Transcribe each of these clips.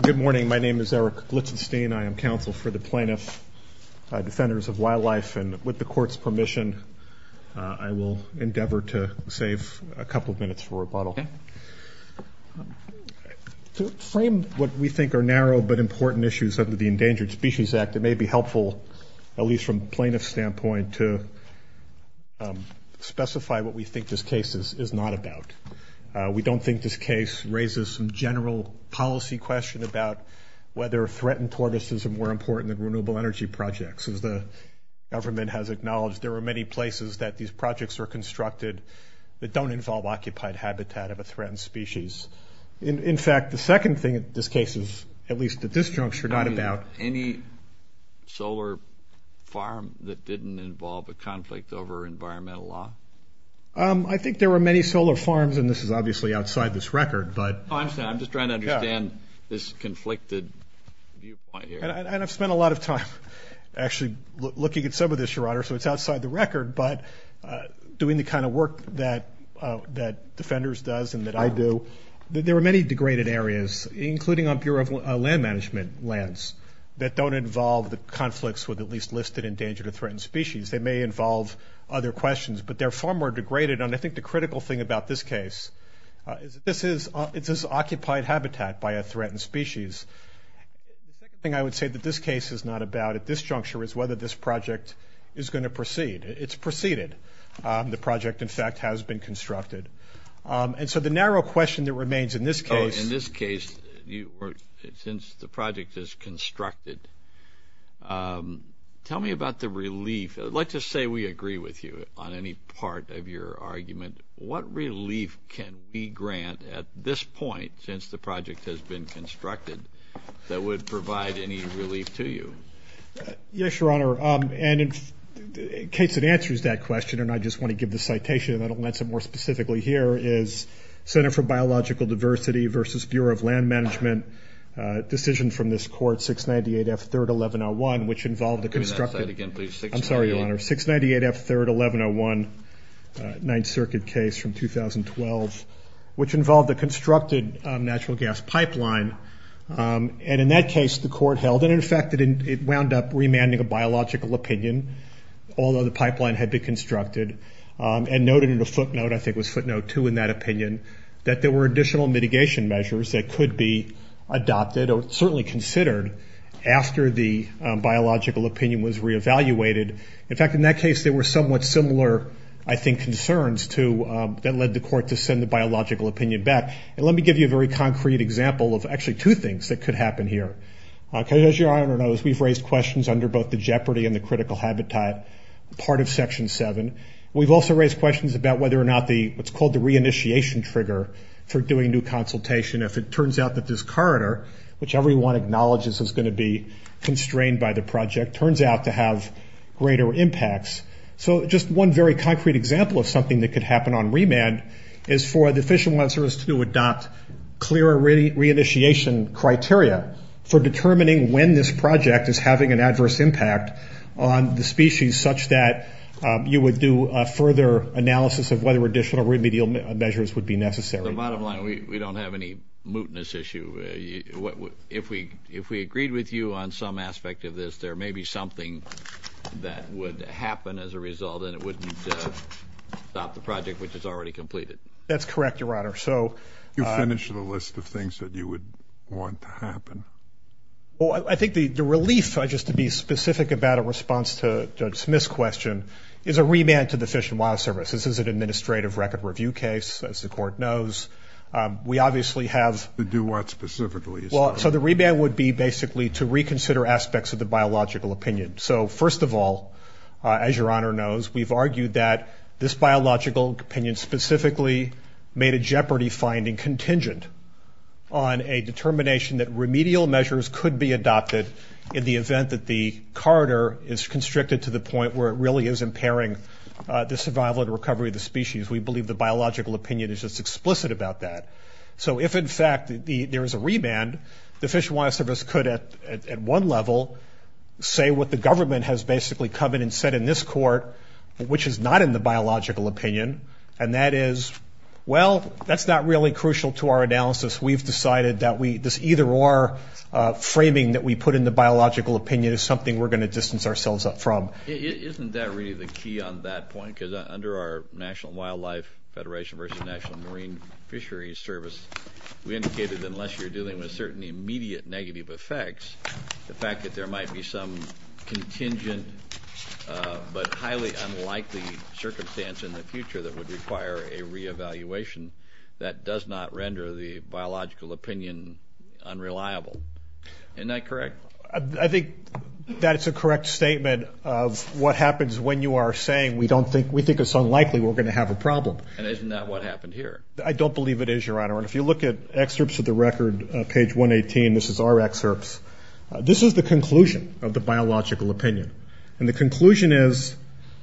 Good morning. My name is Eric Glitzenstein. I am counsel for the Plaintiff Defenders of Wildlife, and with the Court's permission, I will endeavor to save a couple of minutes for rebuttal. To frame what we think are narrow but important issues under the Endangered Species Act, it may be helpful, at least from the plaintiff's standpoint, to specify what we think this case is not about. We don't think this case raises some general policy question about whether threatened tortoises are more important than renewable energy projects. As the government has acknowledged, there are many places that these projects are constructed that don't involve occupied habitat of a threatened species. In fact, the second thing in this case is, at least at this juncture, not about... Any solar farm that didn't involve a conflict over environmental law? I think there were many solar farms, and this is obviously outside this record, but... I'm just trying to understand this conflicted viewpoint here. And I've spent a lot of time actually looking at some of this, Your Honor, so it's outside the record, but doing the kind of work that Defenders does and that I do, there were many degraded areas, including on Bureau of Land Management lands, that don't involve the conflicts with at least listed endangered or threatened species. They may involve other questions, but they're far more degraded. And I think the critical thing about this case is that this is occupied habitat by a threatened species. The second thing I would say that this case is not about at this juncture is whether this project is going to proceed. It's proceeded. The project, in fact, has been constructed. And so the narrow question that remains in this case... I'd like to say we agree with you on any part of your argument. What relief can we grant at this point, since the project has been constructed, that would provide any relief to you? Yes, Your Honor. And in case it answers that question, and I just want to give the citation, and I don't want to answer it more specifically here, is Center for Biological Diversity v. Bureau of Land Management decision from this court, 698 F. 3rd, 1101, which involved the constructed... 698 F. 3rd, 1101, Ninth Circuit case from 2012, which involved the constructed natural gas pipeline. And in that case, the court held, and, in fact, it wound up remanding a biological opinion, although the pipeline had been constructed, and noted in a footnote, I think it was footnote 2 in that opinion, that there were additional mitigation measures that could be adopted or certainly considered after the biological opinion was reevaluated. In fact, in that case, there were somewhat similar, I think, concerns that led the court to send the biological opinion back. And let me give you a very concrete example of actually two things that could happen here. As Your Honor knows, we've raised questions under both the jeopardy and the critical habitat part of Section 7. We've also raised questions about whether or not what's called the re-initiation trigger for doing new consultation. If it turns out that this corridor, which everyone acknowledges is going to be constrained by the project, it turns out to have greater impacts. So just one very concrete example of something that could happen on remand is for the Fish and Wildlife Service to adopt clear re-initiation criteria for determining when this project is having an adverse impact on the species, such that you would do a further analysis of whether additional remedial measures would be necessary. The bottom line, we don't have any mootness issue. If we agreed with you on some aspect of this, there may be something that would happen as a result, and it wouldn't stop the project, which is already completed. That's correct, Your Honor. You finished the list of things that you would want to happen. Well, I think the relief, just to be specific about a response to Judge Smith's question, is a remand to the Fish and Wildlife Service. This is an administrative record review case, as the court knows. To do what specifically? So the remand would be basically to reconsider aspects of the biological opinion. So first of all, as Your Honor knows, we've argued that this biological opinion specifically made a jeopardy finding contingent on a determination that remedial measures could be adopted in the event that the corridor is constricted to the point where it really is impairing the survival and recovery of the species. We believe the biological opinion is just explicit about that. So if, in fact, there is a remand, the Fish and Wildlife Service could, at one level, say what the government has basically come in and said in this court, which is not in the biological opinion, and that is, well, that's not really crucial to our analysis. We've decided that this either-or framing that we put in the biological opinion is something we're going to distance ourselves from. Isn't that really the key on that point? Because under our National Wildlife Federation versus National Marine Fisheries Service, we indicated that unless you're dealing with certain immediate negative effects, the fact that there might be some contingent but highly unlikely circumstance in the future that would require a reevaluation, that does not render the biological opinion unreliable. Isn't that correct? I think that is a correct statement of what happens when you are saying we think it's unlikely we're going to have a problem. And isn't that what happened here? I don't believe it is, Your Honor. And if you look at excerpts of the record, page 118, this is our excerpts. This is the conclusion of the biological opinion. And the conclusion is,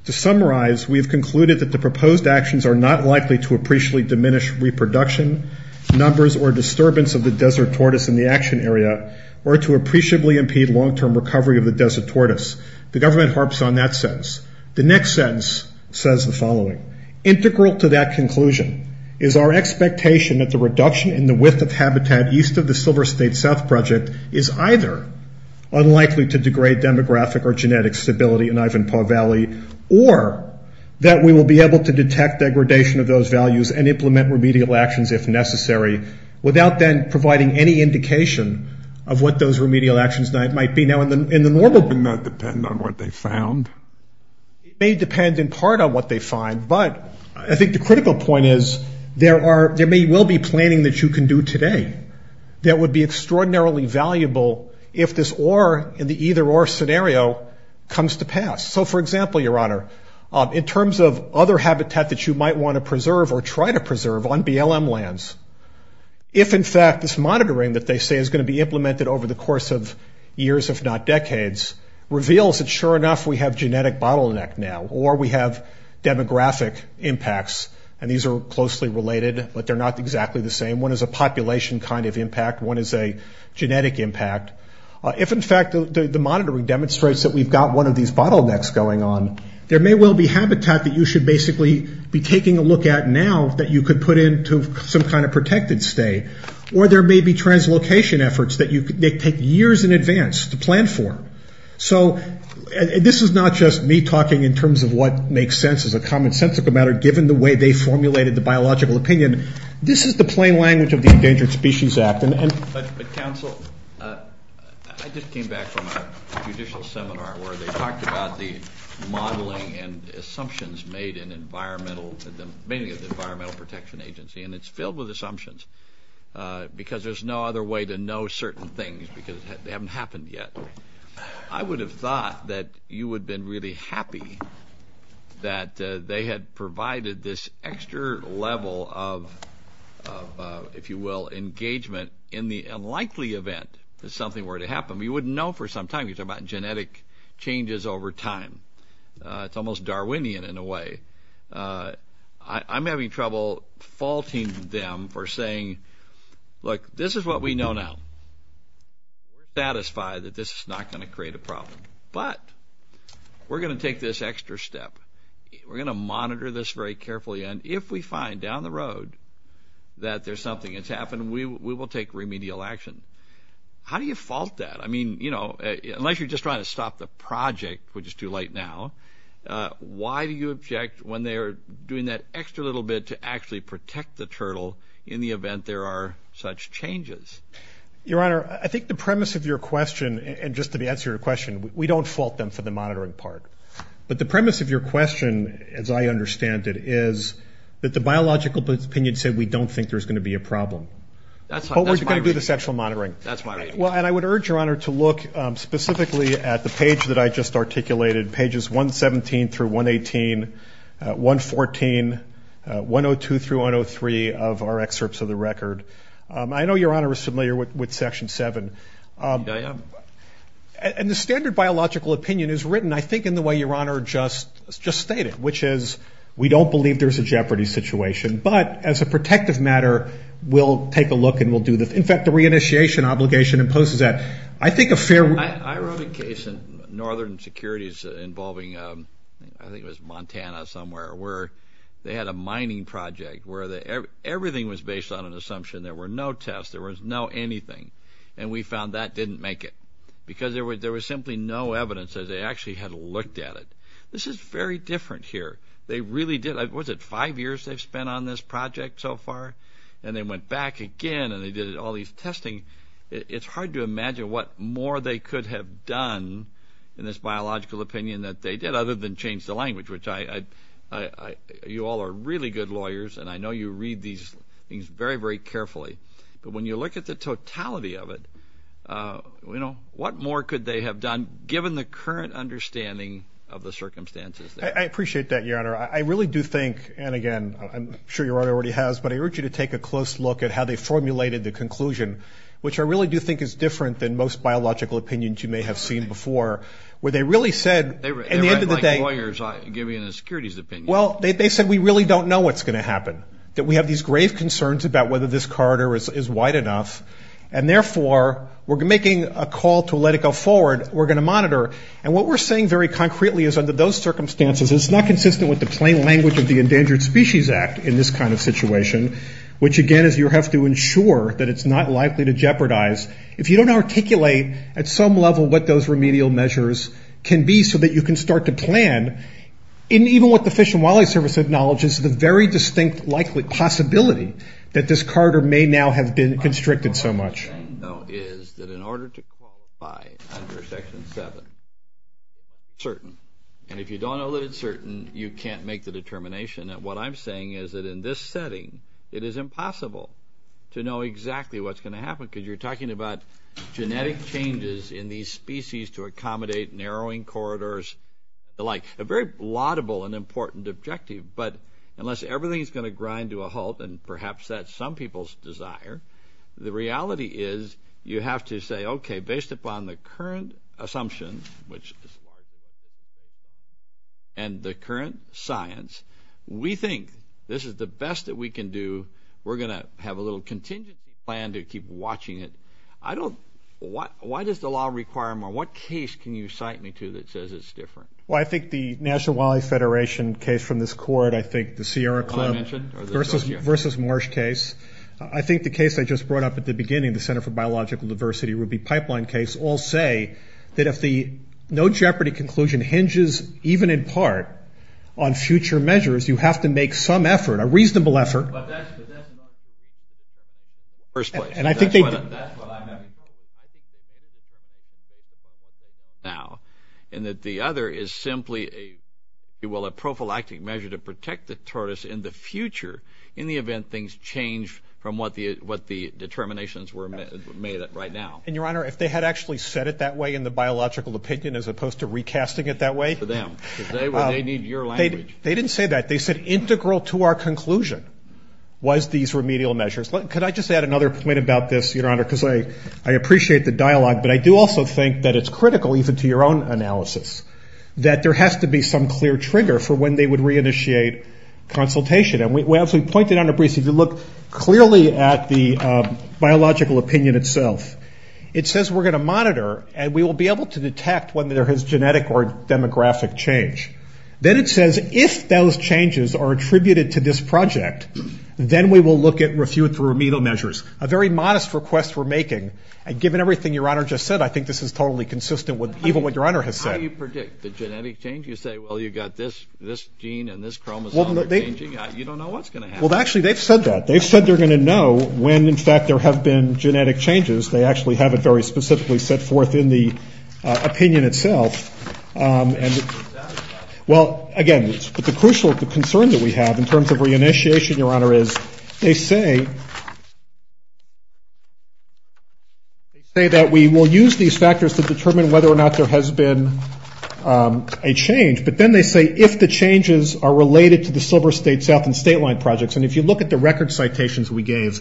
to summarize, we have concluded that the proposed actions are not likely to appreciably diminish reproduction, numbers, or disturbance of the desert tortoise in the action area, or to appreciably impede long-term recovery of the desert tortoise. The government harps on that sentence. The next sentence says the following. Integral to that conclusion is our expectation that the reduction in the width of habitat east of the Silver State South Project is either unlikely to degrade demographic or genetic stability in Ivanpah Valley, or that we will be able to detect degradation of those values and implement remedial actions if necessary, without then providing any indication of what those remedial actions might be. Now, in the normal ---- It may not depend on what they found. It may depend in part on what they find, but I think the critical point is there may well be planning that you can do today that would be extraordinarily valuable if this or in the either-or scenario comes to pass. So, for example, Your Honor, in terms of other habitat that you might want to preserve or try to preserve on BLM lands, if, in fact, this monitoring that they say is going to be implemented over the course of years, if not decades, reveals that, sure enough, we have genetic bottleneck now, or we have demographic impacts, and these are closely related, but they're not exactly the same. One is a population kind of impact. One is a genetic impact. If, in fact, the monitoring demonstrates that we've got one of these bottlenecks going on, there may well be habitat that you should basically be taking a look at now that you could put into some kind of protected stay, or there may be translocation efforts that take years in advance to plan for. So this is not just me talking in terms of what makes sense as a commonsensical matter, given the way they formulated the biological opinion. This is the plain language of the Endangered Species Act. But, Counsel, I just came back from a judicial seminar where they talked about the modeling and assumptions made in the Environmental Protection Agency, and it's filled with assumptions because there's no other way to know certain things because they haven't happened yet. I would have thought that you would have been really happy that they had provided this extra level of, if you will, engagement in the unlikely event that something were to happen. We wouldn't know for some time. You talk about genetic changes over time. It's almost Darwinian in a way. I'm having trouble faulting them for saying, look, this is what we know now. We're satisfied that this is not going to create a problem. But we're going to take this extra step. We're going to monitor this very carefully, and if we find down the road that there's something that's happened, we will take remedial action. How do you fault that? I mean, you know, unless you're just trying to stop the project, which is too late now, why do you object when they're doing that extra little bit to actually protect the turtle in the event there are such changes? Your Honor, I think the premise of your question, and just to answer your question, we don't fault them for the monitoring part. But the premise of your question, as I understand it, is that the biological opinion said we don't think there's going to be a problem. That's my reading. But we're going to do the sexual monitoring. That's my reading. Well, and I would urge Your Honor to look specifically at the page that I just articulated, pages 117 through 118, 114, 102 through 103 of our excerpts of the record. I know Your Honor is familiar with Section 7. I am. And the standard biological opinion is written, I think, in the way Your Honor just stated, which is we don't believe there's a jeopardy situation. But as a protective matter, we'll take a look and we'll do this. In fact, the reinitiation obligation imposes that. I think a fair rule. I wrote a case in Northern Securities involving, I think it was Montana somewhere, where they had a mining project where everything was based on an assumption. There were no tests. There was no anything. And we found that didn't make it because there was simply no evidence that they actually had looked at it. This is very different here. They really did. Was it five years they've spent on this project so far? And they went back again and they did all these testing. It's hard to imagine what more they could have done in this biological opinion that they did other than change the language, which you all are really good lawyers, and I know you read these things very, very carefully. But when you look at the totality of it, you know, what more could they have done given the current understanding of the circumstances? I appreciate that, Your Honor. I really do think, and again, I'm sure Your Honor already has, but I urge you to take a close look at how they formulated the conclusion, which I really do think is different than most biological opinions you may have seen before, where they really said at the end of the day – They write like lawyers giving a securities opinion. Well, they said we really don't know what's going to happen, that we have these grave concerns about whether this corridor is wide enough, and therefore we're making a call to let it go forward. We're going to monitor. And what we're saying very concretely is under those circumstances, it's not consistent with the plain language of the Endangered Species Act in this kind of situation, which, again, is you have to ensure that it's not likely to jeopardize. If you don't articulate at some level what those remedial measures can be so that you can start to plan, even what the Fish and Wildlife Service acknowledges is the very distinct possibility that this corridor may now have been constricted so much. What I'm saying, though, is that in order to qualify under Section 7, it's certain. And if you don't know that it's certain, you can't make the determination. What I'm saying is that in this setting, it is impossible to know exactly what's going to happen because you're talking about genetic changes in these species to accommodate narrowing corridors, the like. A very laudable and important objective, but unless everything is going to grind to a halt, and perhaps that's some people's desire, the reality is you have to say, okay, based upon the current assumptions, which is a lot of data, and the current science, we think this is the best that we can do. We're going to have a little contingency plan to keep watching it. Why does the law require more? What case can you cite me to that says it's different? Well, I think the National Wildlife Federation case from this court, I think the Sierra Club versus Marsh case. I think the case I just brought up at the beginning, the Center for Biological Diversity Ruby Pipeline case, all say that if the no jeopardy conclusion hinges even in part on future measures, you have to make some effort, a reasonable effort. But that's not the case in the first place. That's what I'm having trouble with. I think that the other is simply, if you will, a prophylactic measure to protect the tortoise in the future in the event things change from what the determinations were made at right now. And, Your Honor, if they had actually said it that way in the biological opinion as opposed to recasting it that way. They need your language. They didn't say that. They said integral to our conclusion was these remedial measures. Could I just add another point about this, Your Honor, because I appreciate the dialogue, but I do also think that it's critical even to your own analysis that there has to be some clear trigger for when they would reinitiate consultation. And as we pointed out in a brief, if you look clearly at the biological opinion itself, it says we're going to monitor and we will be able to detect whether there is genetic or demographic change. Then it says if those changes are attributed to this project, then we will look at and refute the remedial measures. A very modest request we're making. And given everything Your Honor just said, I think this is totally consistent with even what Your Honor has said. How do you predict the genetic change? You say, well, you've got this gene and this chromosome changing. You don't know what's going to happen. Well, actually, they've said that. They've said they're going to know when, in fact, there have been genetic changes. They actually have it very specifically set forth in the opinion itself. Well, again, the crucial concern that we have in terms of reinitiation, Your Honor, is they say that we will use these factors to determine whether or not there has been a change. But then they say if the changes are related to the Silver State South and State line projects. And if you look at the record citations we gave,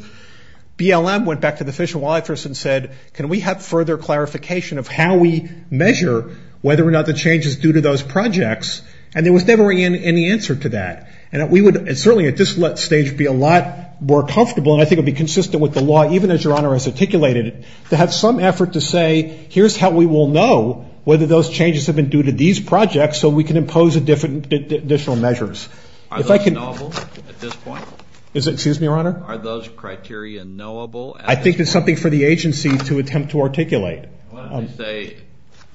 BLM went back to the Fish and Wildlife Service and said, can we have further clarification of how we measure whether or not the change is due to those projects? And there was never any answer to that. And we would certainly at this stage be a lot more comfortable, and I think it would be consistent with the law, even as Your Honor has articulated it, to have some effort to say here's how we will know whether those changes have been due to these projects so we can impose additional measures. Are those knowable at this point? Excuse me, Your Honor? Are those criteria knowable? I think it's something for the agency to attempt to articulate. What if they say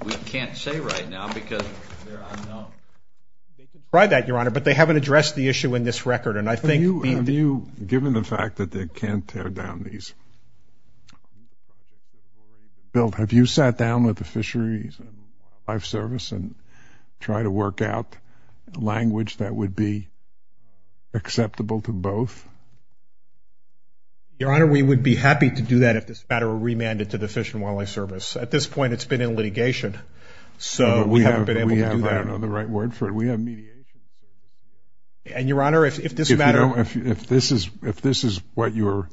we can't say right now because they're on note? They can try that, Your Honor, but they haven't addressed the issue in this record. And I think being the... Have you, given the fact that they can't tear down these, Bill, have you sat down with the Fisheries and Wildlife Service and tried to work out language that would be acceptable to both? Your Honor, we would be happy to do that if this matter were remanded to the Fish and Wildlife Service. At this point, it's been in litigation, so we haven't been able to do that. But we have, I don't know the right word for it, we have mediation. And, Your Honor, if this matter... If this is what you're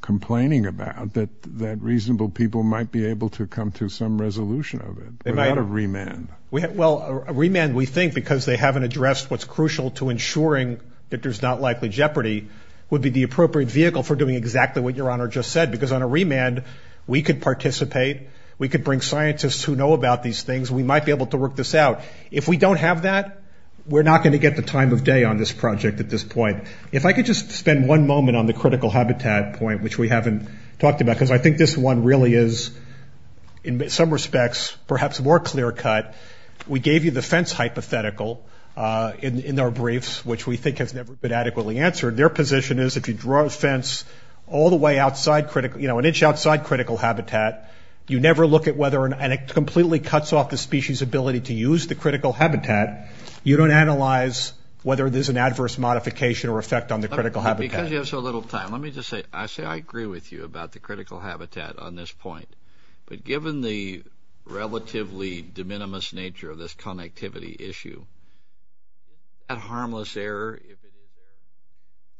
complaining about, that reasonable people might be able to come to some resolution of it without a remand. Well, a remand we think because they haven't addressed what's crucial to ensuring that there's not likely jeopardy would be the appropriate vehicle for doing exactly what Your Honor just said. Because on a remand, we could participate. We could bring scientists who know about these things. We might be able to work this out. If we don't have that, we're not going to get the time of day on this project at this point. If I could just spend one moment on the critical habitat point, which we haven't talked about, because I think this one really is, in some respects, perhaps more clear-cut. We gave you the fence hypothetical in our briefs, which we think has never been adequately answered. Their position is if you draw a fence all the way outside critical, you know, an inch outside critical habitat, you never look at whether... And it completely cuts off the species' ability to use the critical habitat. You don't analyze whether there's an adverse modification or effect on the critical habitat. Because you have so little time, let me just say, I say I agree with you about the critical habitat on this point. But given the relatively de minimis nature of this connectivity issue, is that a harmless error?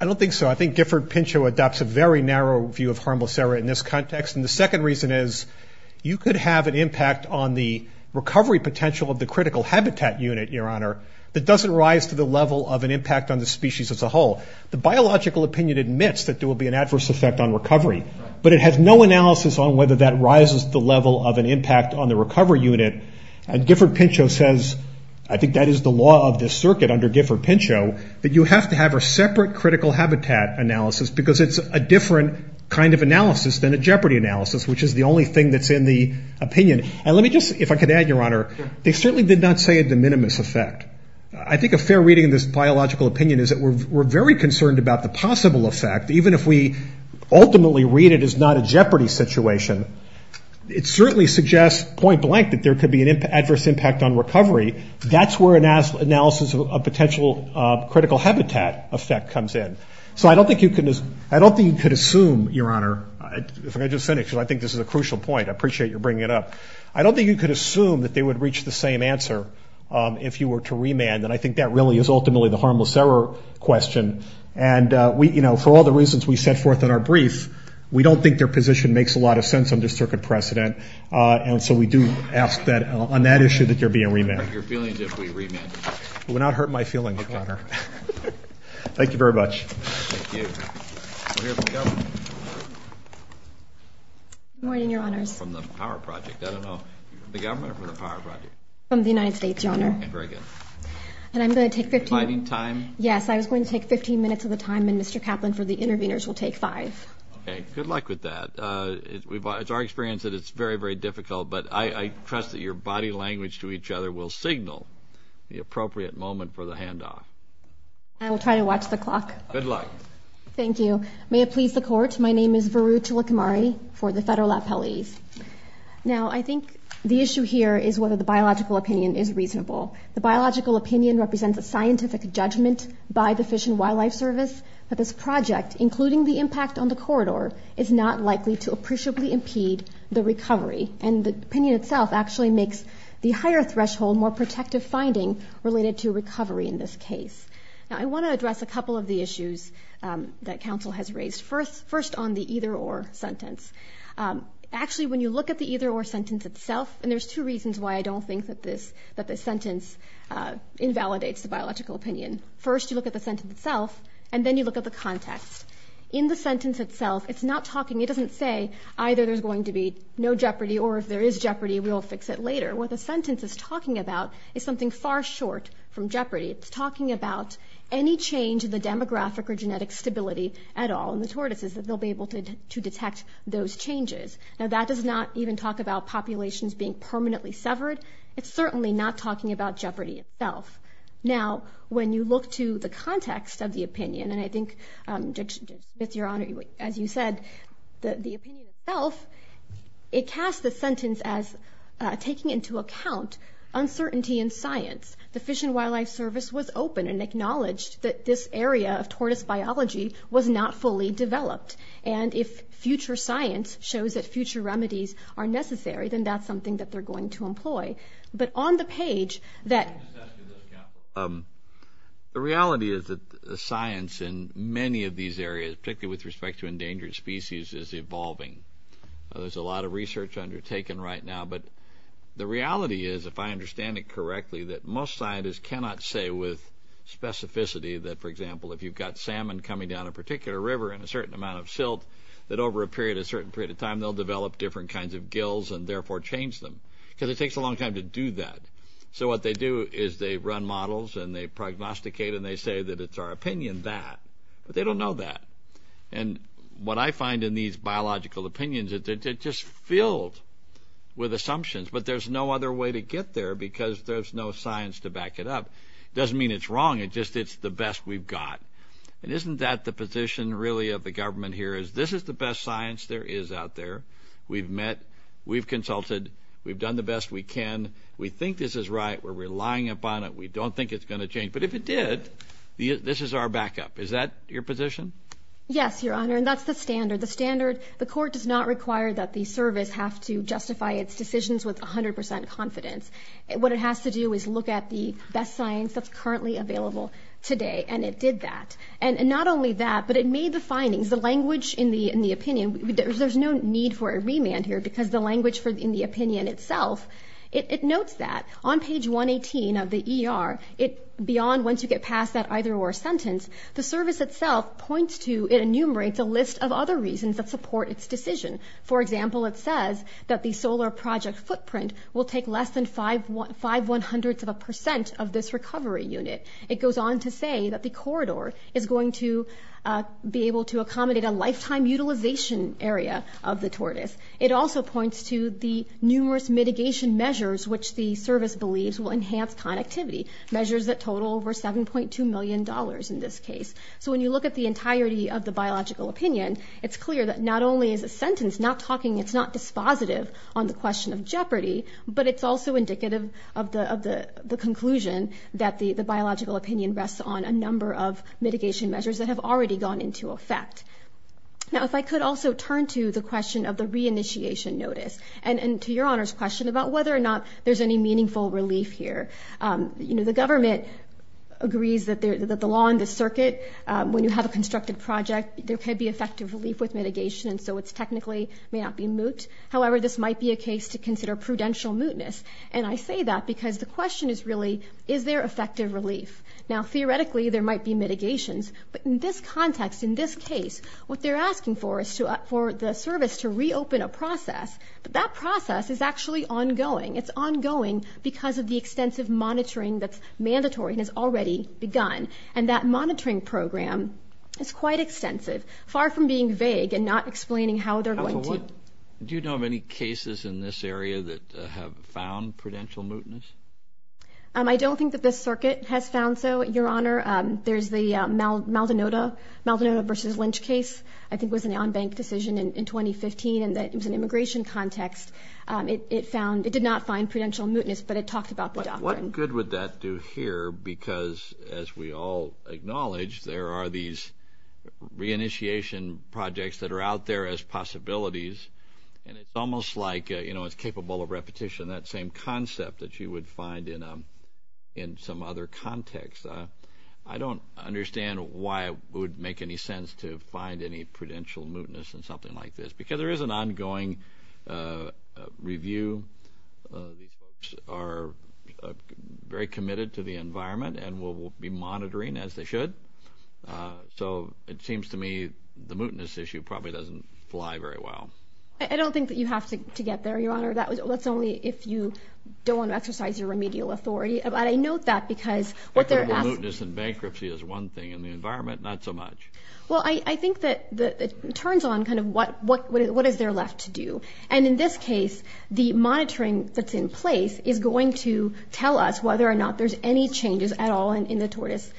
I don't think so. I think Gifford-Pinchot adopts a very narrow view of harmless error in this context. And the second reason is you could have an impact on the recovery potential of the critical habitat unit, Your Honor, that doesn't rise to the level of an impact on the species as a whole. The biological opinion admits that there will be an adverse effect on recovery. But it has no analysis on whether that rises to the level of an impact on the recovery unit. And Gifford-Pinchot says, I think that is the law of this circuit under Gifford-Pinchot, that you have to have a separate critical habitat analysis because it's a different kind of analysis than a jeopardy analysis, which is the only thing that's in the opinion. And let me just, if I could add, Your Honor, they certainly did not say a de minimis effect. I think a fair reading of this biological opinion is that we're very concerned about the possible effect, even if we ultimately read it as not a jeopardy situation. It certainly suggests point blank that there could be an adverse impact on recovery. That's where analysis of potential critical habitat effect comes in. So I don't think you could assume, Your Honor, if I could just finish because I think this is a crucial point, I appreciate your bringing it up. I don't think you could assume that they would reach the same answer if you were to remand, and I think that really is ultimately the harmless error question. And, you know, for all the reasons we set forth in our brief, we don't think their position makes a lot of sense under circuit precedent, and so we do ask that on that issue that there be a remand. Your feelings if we remand? It would not hurt my feelings, Your Honor. Thank you very much. Thank you. Good morning, Your Honors. From the power project. I don't know. The government or from the power project? From the United States, Your Honor. Very good. And I'm going to take 15 minutes. Climbing time? Yes, I was going to take 15 minutes of the time, and Mr. Kaplan for the interveners will take five. Okay. Good luck with that. It's our experience that it's very, very difficult, but I trust that your body language to each other will signal the appropriate moment for the handoff. I will try to watch the clock. Good luck. Thank you. May it please the Court, my name is Varu Chilakamari for the Federal Appellees. Now, I think the issue here is whether the biological opinion is reasonable. The biological opinion represents a scientific judgment by the Fish and Wildlife Service that this project, including the impact on the corridor, is not likely to appreciably impede the recovery, and the opinion itself actually makes the higher threshold more protective finding related to recovery in this case. Now, I want to address a couple of the issues that counsel has raised. First on the either-or sentence. Actually, when you look at the either-or sentence itself, and there's two reasons why I don't think that this sentence invalidates the biological opinion. First, you look at the sentence itself, and then you look at the context. In the sentence itself, it's not talking, it doesn't say either there's going to be no jeopardy or if there is jeopardy, we'll fix it later. What the sentence is talking about is something far short from jeopardy. It's talking about any change in the demographic or genetic stability at all in the tortoises that they'll be able to detect those changes. Now, that does not even talk about populations being permanently severed. It's certainly not talking about jeopardy itself. Now, when you look to the context of the opinion, and I think, Judge Smith, Your Honor, as you said, the opinion itself, it casts the sentence as taking into account uncertainty in science. The Fish and Wildlife Service was open and acknowledged that this area of tortoise biology was not fully developed, and if future science shows that future remedies are necessary, then that's something that they're going to employ. But on the page that the reality is that the science in many of these areas, particularly with respect to endangered species, is evolving. There's a lot of research undertaken right now, but the reality is, if I understand it correctly, that most scientists cannot say with specificity that, for example, if you've got salmon coming down a particular river in a certain amount of silt, that over a certain period of time they'll develop different kinds of gills and therefore change them, because it takes a long time to do that. So what they do is they run models and they prognosticate and they say that it's our opinion that, but they don't know that. And what I find in these biological opinions is that they're just filled with assumptions, but there's no other way to get there because there's no science to back it up. It doesn't mean it's wrong. It's just it's the best we've got. And isn't that the position really of the government here is this is the best science there is out there. We've met. We've consulted. We've done the best we can. We think this is right. We're relying upon it. We don't think it's going to change. But if it did, this is our backup. Is that your position? Yes, Your Honor, and that's the standard. The standard, the court does not require that the service have to justify its decisions with 100 percent confidence. What it has to do is look at the best science that's currently available today, and it did that. And not only that, but it made the findings, the language in the opinion. There's no need for a remand here because the language in the opinion itself, it notes that. On page 118 of the ER, beyond once you get past that either-or sentence, the service itself points to and enumerates a list of other reasons that support its decision. For example, it says that the solar project footprint will take less than five one-hundredths of a percent of this recovery unit. It goes on to say that the corridor is going to be able to accommodate a lifetime utilization area of the tortoise. It also points to the numerous mitigation measures which the service believes will enhance connectivity, measures that total over $7.2 million in this case. So when you look at the entirety of the biological opinion, it's clear that not only is a sentence not talking, it's not dispositive on the question of jeopardy, but it's also indicative of the conclusion that the biological opinion rests on a number of mitigation measures that have already gone into effect. Now, if I could also turn to the question of the reinitiation notice, and to Your Honor's question about whether or not there's any meaningful relief here. The government agrees that the law and the circuit, when you have a constructed project, there could be effective relief with mitigation, and so it technically may not be moot. However, this might be a case to consider prudential mootness, and I say that because the question is really, is there effective relief? Now, theoretically, there might be mitigations, but in this context, in this case, what they're asking for is for the service to reopen a process, but that process is actually ongoing. It's ongoing because of the extensive monitoring that's mandatory and has already begun, and that monitoring program is quite extensive, far from being vague and not explaining how they're going to. Do you know of any cases in this area that have found prudential mootness? I don't think that this circuit has found so, Your Honor. There's the Maldonado v. Lynch case, I think was an on-bank decision in 2015, and it was an immigration context. It did not find prudential mootness, but it talked about the doctrine. What good would that do here because, as we all acknowledge, there are these reinitiation projects that are out there as possibilities, and it's almost like it's capable of repetition, that same concept that you would find in some other context. I don't understand why it would make any sense to find any prudential mootness in something like this because there is an ongoing review. These folks are very committed to the environment and will be monitoring, as they should. So it seems to me the mootness issue probably doesn't fly very well. I don't think that you have to get there, Your Honor. That's only if you don't want to exercise your remedial authority. But I note that because what they're asking— Mootness and bankruptcy is one thing, and the environment, not so much. Well, I think that it turns on kind of what is there left to do. And in this case, the monitoring that's in place is going to tell us whether or not there's any changes at all in the tortoise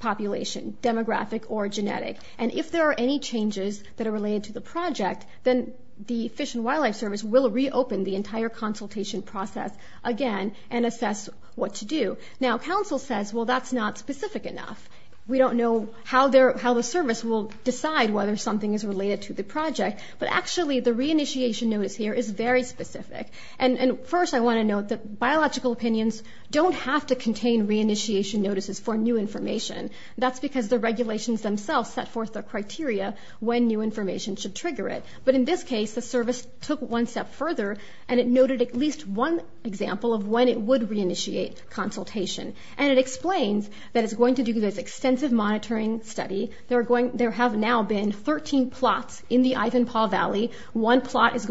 population, demographic or genetic. And if there are any changes that are related to the project, then the Fish and Wildlife Service will reopen the entire consultation process again and assess what to do. Now, counsel says, well, that's not specific enough. We don't know how the service will decide whether something is related to the project. But actually, the reinitiation notice here is very specific. And first, I want to note that biological opinions don't have to contain reinitiation notices for new information. That's because the regulations themselves set forth the criteria when new information should trigger it. But in this case, the service took one step further, and it noted at least one example of when it would reinitiate consultation. And it explains that it's going to do this extensive monitoring study. There have now been 13 plots in the Ivanpah Valley. One plot is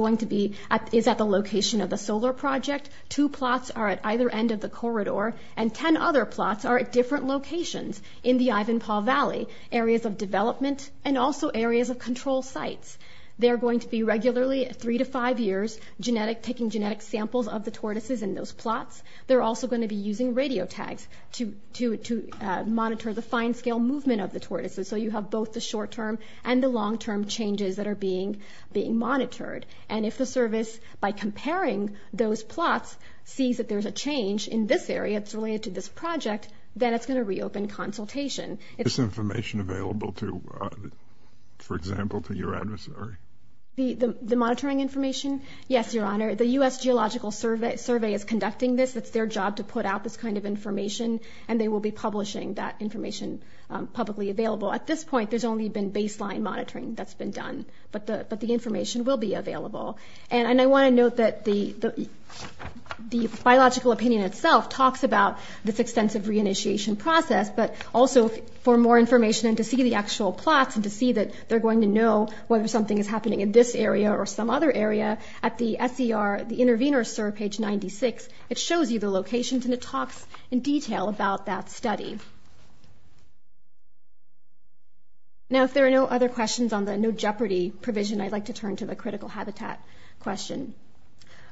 at the location of the solar project. Two plots are at either end of the corridor. And 10 other plots are at different locations in the Ivanpah Valley, areas of development and also areas of control sites. They're going to be regularly, three to five years, taking genetic samples of the tortoises in those plots. They're also going to be using radio tags to monitor the fine-scale movement of the tortoises. So you have both the short-term and the long-term changes that are being monitored. And if the service, by comparing those plots, sees that there's a change in this area that's related to this project, then it's going to reopen consultation. Is this information available to, for example, to your adversary? The monitoring information? Yes, Your Honor. The U.S. Geological Survey is conducting this. It's their job to put out this kind of information, and they will be publishing that information publicly available. At this point, there's only been baseline monitoring that's been done. But the information will be available. And I want to note that the biological opinion itself talks about this extensive reinitiation process, but also for more information and to see the actual plots and to see that they're going to know whether something is happening in this area or some other area, at the SER, the Intervenor SER, page 96, it shows you the locations and it talks in detail about that study. Now, if there are no other questions on the no jeopardy provision, I'd like to turn to the critical habitat question.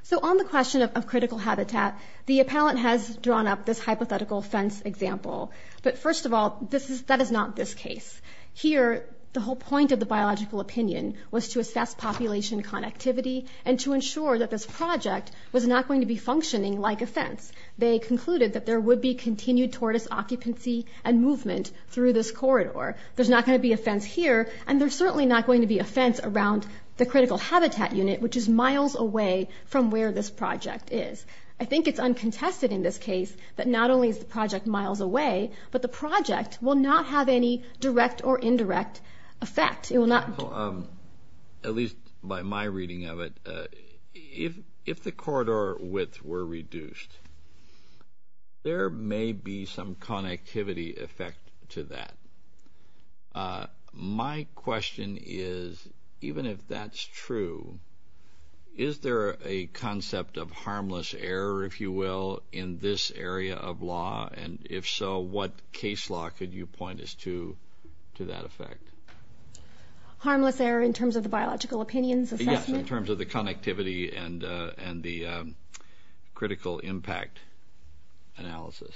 So on the question of critical habitat, the appellant has drawn up this hypothetical fence example. But first of all, that is not this case. Here, the whole point of the biological opinion was to assess population connectivity and to ensure that this project was not going to be functioning like a fence. They concluded that there would be continued tortoise occupancy and movement through this corridor. There's not going to be a fence here, and there's certainly not going to be a fence around the critical habitat unit, which is miles away from where this project is. I think it's uncontested in this case that not only is the project miles away, but the project will not have any direct or indirect effect. At least by my reading of it, if the corridor width were reduced, there may be some connectivity effect to that. My question is, even if that's true, is there a concept of harmless error, if you will, in this area of law? And if so, what case law could you point us to that effect? Harmless error in terms of the biological opinions assessment? Yes, in terms of the connectivity and the critical impact analysis.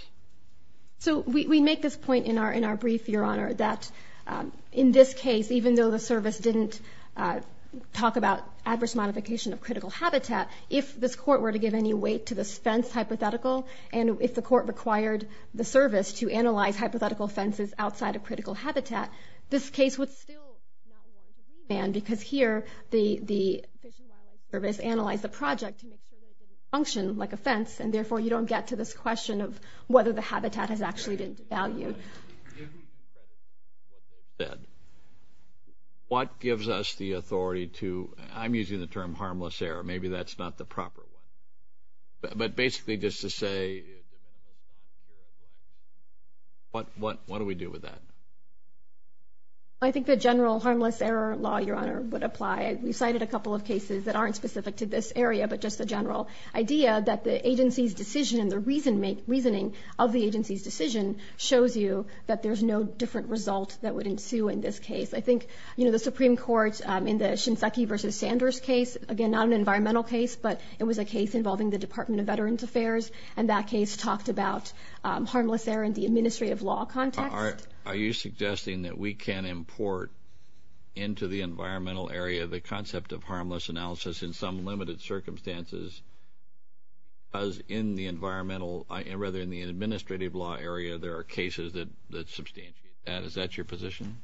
So we make this point in our brief, Your Honor, that in this case, even though the service didn't talk about adverse modification of critical habitat, if this court were to give any weight to this fence hypothetical, and if the court required the service to analyze hypothetical fences outside of critical habitat, this case would still not be on the agreement, because here the Fish and Wildlife Service analyzed the project to make sure that it didn't function like a fence, and therefore you don't get to this question of whether the habitat has actually been devalued. What gives us the authority to, I'm using the term harmless error, maybe that's not the proper one, but basically just to say, what do we do with that? I think the general harmless error law, Your Honor, would apply. We cited a couple of cases that aren't specific to this area, but just the general idea that the agency's decision and the reasoning of the agency's decision shows you that there's no different result that would ensue in this case. I think, you know, the Supreme Court in the Shinseki v. Sanders case, again, not an environmental case, but it was a case involving the Department of Veterans Affairs, and that case talked about harmless error in the administrative law context. Are you suggesting that we can import into the environmental area the concept of harmless analysis in some limited circumstances because in the environmental, rather, in the administrative law area, there are cases that substantiate that? Is that your position?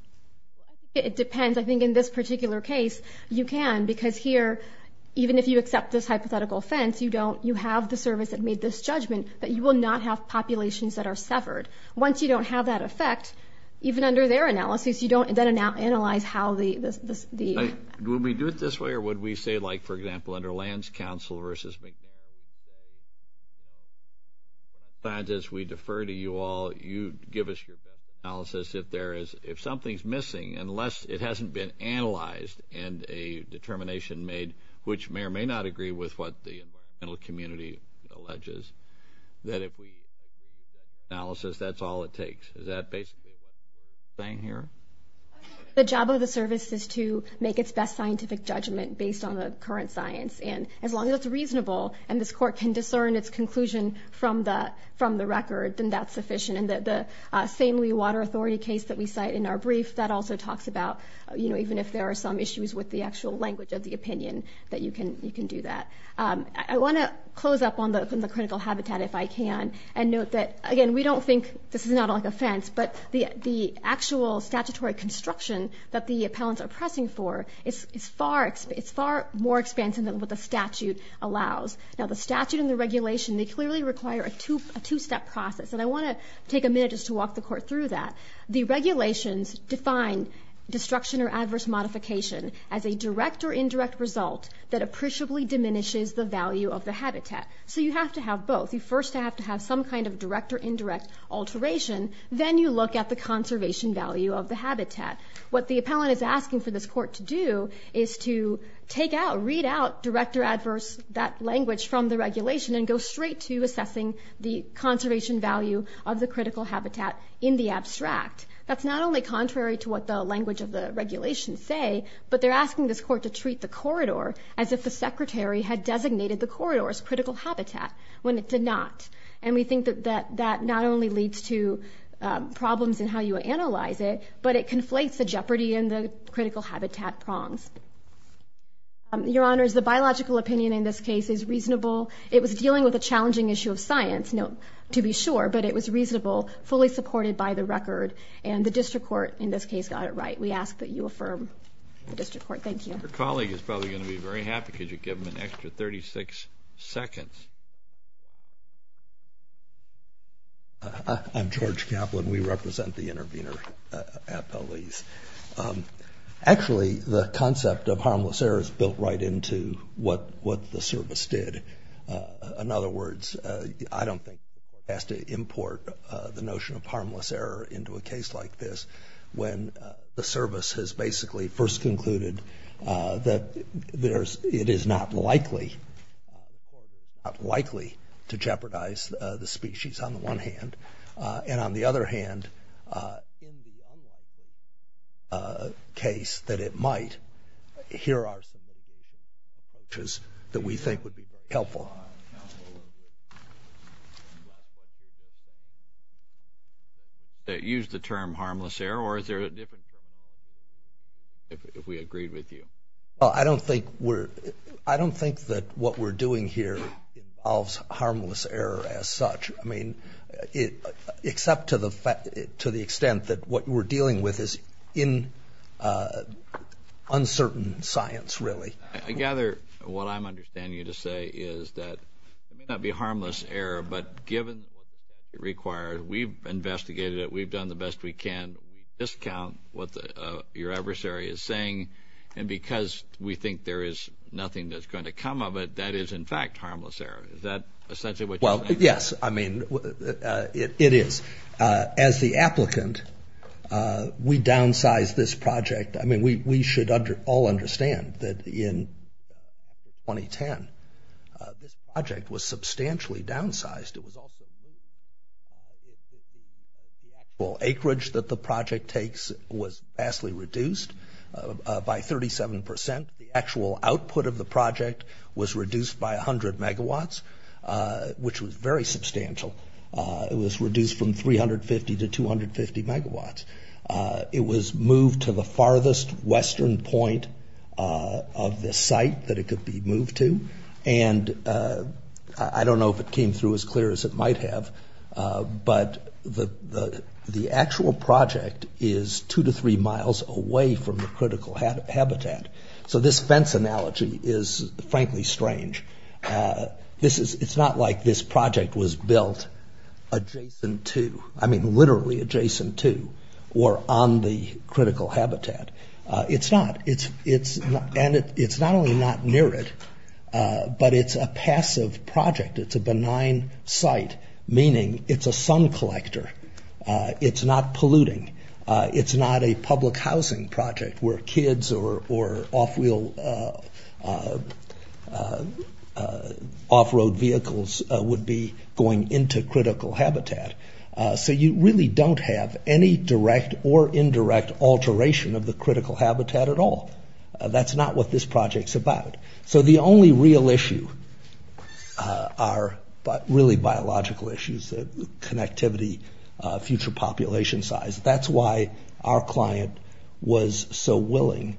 It depends. I think in this particular case you can because here, even if you accept this hypothetical fence, you have the service that made this judgment that you will not have populations that are severed. Once you don't have that effect, even under their analysis, you don't then analyze how the ______. Would we do it this way or would we say, like, for example, under Lands Council v. ______, we defer to you all, you give us your best analysis. If something's missing, unless it hasn't been analyzed and a determination made, which may or may not agree with what the environmental community alleges, that if we ______ analysis, that's all it takes. Is that basically what you're saying here? The job of the service is to make its best scientific judgment based on the current science, and as long as it's reasonable and this court can discern its conclusion from the record, then that's sufficient. And the same Lee Water Authority case that we cite in our brief, that also talks about, you know, even if there are some issues with the actual language of the opinion, that you can do that. I want to close up on the critical habitat, if I can, and note that, again, we don't think this is not like a fence, but the actual statutory construction that the appellants are pressing for is far more expansive than what the statute allows. Now, the statute and the regulation, they clearly require a two-step process, and I want to take a minute just to walk the court through that. The regulations define destruction or adverse modification as a direct or indirect result that appreciably diminishes the value of the habitat. So you have to have both. You first have to have some kind of direct or indirect alteration, then you look at the conservation value of the habitat. What the appellant is asking for this court to do is to take out, read out, direct or adverse that language from the regulation and go straight to assessing the conservation value of the critical habitat in the abstract. That's not only contrary to what the language of the regulation say, but they're asking this court to treat the corridor as if the secretary had designated the corridor as critical habitat when it did not, and we think that that not only leads to problems in how you analyze it, but it conflates the jeopardy and the critical habitat prongs. Your Honors, the biological opinion in this case is reasonable. It was dealing with a challenging issue of science, to be sure, but it was reasonable, fully supported by the record, and the district court in this case got it right. We ask that you affirm the district court. Thank you. Your colleague is probably going to be very happy. Could you give him an extra 36 seconds? I'm George Kaplan. We represent the intervener appellees. Actually, the concept of harmless error is built right into what the service did. In other words, I don't think we were asked to import the notion of harmless error into a case like this when the service has basically first concluded that it is not likely to jeopardize the species on the one hand, and on the other hand, in the unlikely case that it might, here are some of the advantages that we think would be helpful. Counsel, did you use the term harmless error, or is there a difference if we agreed with you? Well, I don't think that what we're doing here involves harmless error as such, except to the extent that what we're dealing with is uncertain science, really. I gather what I'm understanding you to say is that it may not be harmless error, but given what it requires, we've investigated it, we've done the best we can, we discount what your adversary is saying, and because we think there is nothing that's going to come of it, that is in fact harmless error. Is that essentially what you're saying? Well, yes. I mean, it is. As the applicant, we downsized this project. I mean, we should all understand that in 2010, this project was substantially downsized. The actual acreage that the project takes was vastly reduced by 37%. The actual output of the project was reduced by 100 megawatts, which was very substantial. It was reduced from 350 to 250 megawatts. It was moved to the farthest western point of the site that it could be moved to, and I don't know if it came through as clear as it might have, but the actual project is two to three miles away from the critical habitat. So this fence analogy is, frankly, strange. It's not like this project was built adjacent to, I mean literally adjacent to, or on the critical habitat. It's not, and it's not only not near it, but it's a passive project. It's a benign site, meaning it's a sun collector. It's not polluting. It's not a public housing project where kids or off-road vehicles would be going into critical habitat. So you really don't have any direct or indirect alteration of the critical habitat at all. That's not what this project's about. So the only real issue are really biological issues, connectivity, future population size. That's why our client was so willing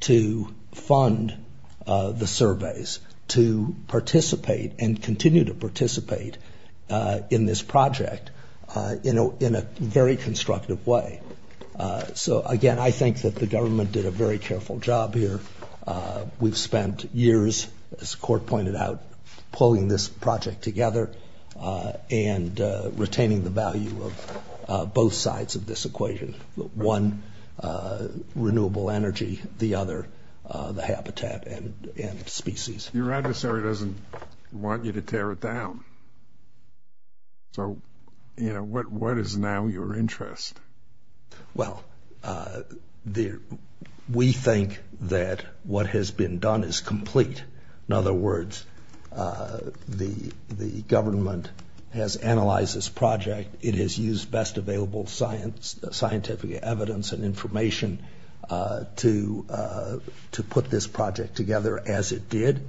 to fund the surveys, to participate and continue to participate in this project in a very constructive way. So, again, I think that the government did a very careful job here. We've spent years, as the court pointed out, pulling this project together and retaining the value of both sides of this equation, one, renewable energy, the other, the habitat and species. Your adversary doesn't want you to tear it down. So, you know, what is now your interest? Well, we think that what has been done is complete. In other words, the government has analyzed this project. It has used best available scientific evidence and information to put this project together as it did.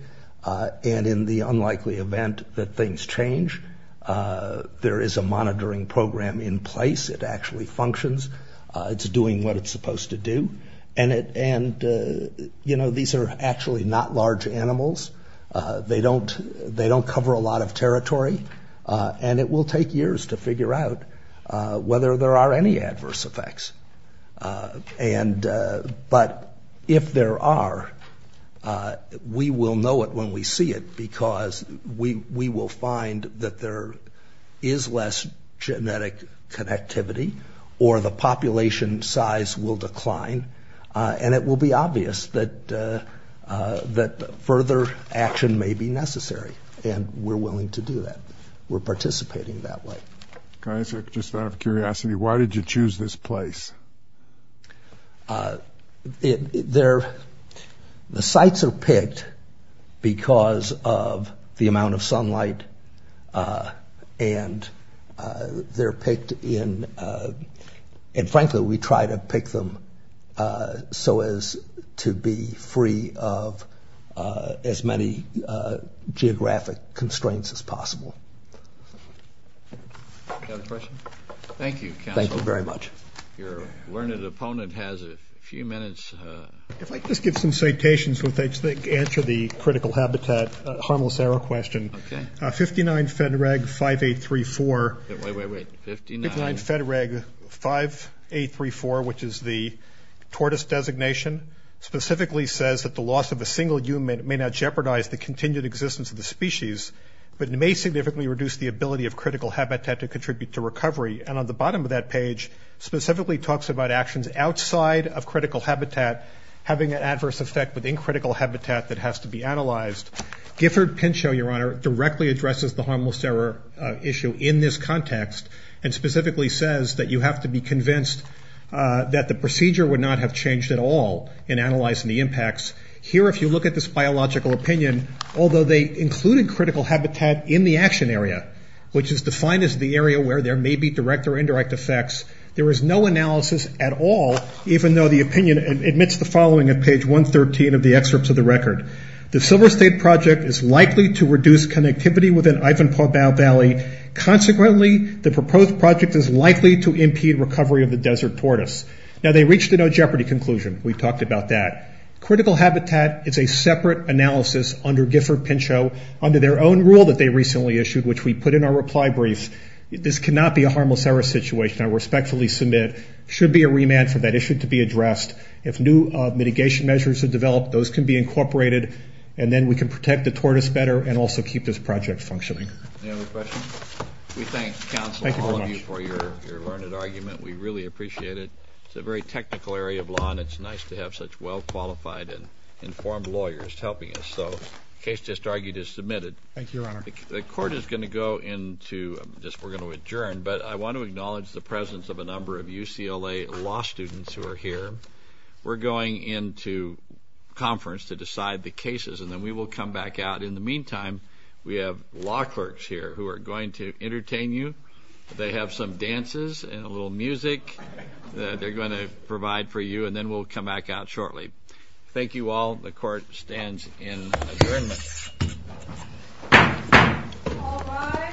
And in the unlikely event that things change, there is a monitoring program in place. It actually functions. It's doing what it's supposed to do. And, you know, these are actually not large animals. They don't cover a lot of territory. And it will take years to figure out whether there are any adverse effects. But if there are, we will know it when we see it because we will find that there is less genetic connectivity or the population size will decline. And it will be obvious that further action may be necessary. And we're willing to do that. We're participating that way. Can I ask, just out of curiosity, why did you choose this place? The sites are picked because of the amount of sunlight. And they're picked in – and frankly, we try to pick them so as to be free of as many geographic constraints as possible. Do you have a question? Thank you, counsel. Thank you very much. Your learned opponent has a few minutes. If I could just give some citations with which to answer the critical habitat, harmless arrow question. Okay. 59 FEDREG 5834. Wait, wait, wait. 59. 59 FEDREG 5834, which is the tortoise designation, specifically says that the loss of a single human may not jeopardize the continued existence of the species, but it may significantly reduce the ability of critical habitat to contribute to recovery. And on the bottom of that page, specifically talks about actions outside of critical habitat having an adverse effect within critical habitat that has to be analyzed. Gifford Pinchot, Your Honor, directly addresses the harmless arrow issue in this context and specifically says that you have to be convinced that the procedure would not have changed at all in analyzing the impacts. Here, if you look at this biological opinion, although they included critical habitat in the action area, which is defined as the area where there may be direct or indirect effects, there is no analysis at all, even though the opinion admits the following at page 113 of the excerpts of the record. The Silver State project is likely to reduce connectivity within Ivanpah Valley. Consequently, the proposed project is likely to impede recovery of the desert tortoise. Now, they reached a no jeopardy conclusion. We talked about that. Critical habitat is a separate analysis under Gifford Pinchot, under their own rule that they recently issued, which we put in our reply brief. This cannot be a harmless arrow situation. I respectfully submit there should be a remand for that issue to be addressed. If new mitigation measures are developed, those can be incorporated, and then we can protect the tortoise better and also keep this project functioning. Any other questions? We thank counsel and all of you for your learned argument. We really appreciate it. It's a very technical area of law, and it's nice to have such well-qualified and informed lawyers helping us. So the case just argued is submitted. Thank you, Your Honor. The court is going to go into just we're going to adjourn, but I want to acknowledge the presence of a number of UCLA law students who are here. We're going into conference to decide the cases, and then we will come back out. In the meantime, we have law clerks here who are going to entertain you. They have some dances and a little music that they're going to provide for you, and then we'll come back out shortly. Thank you all. The court stands in adjournment.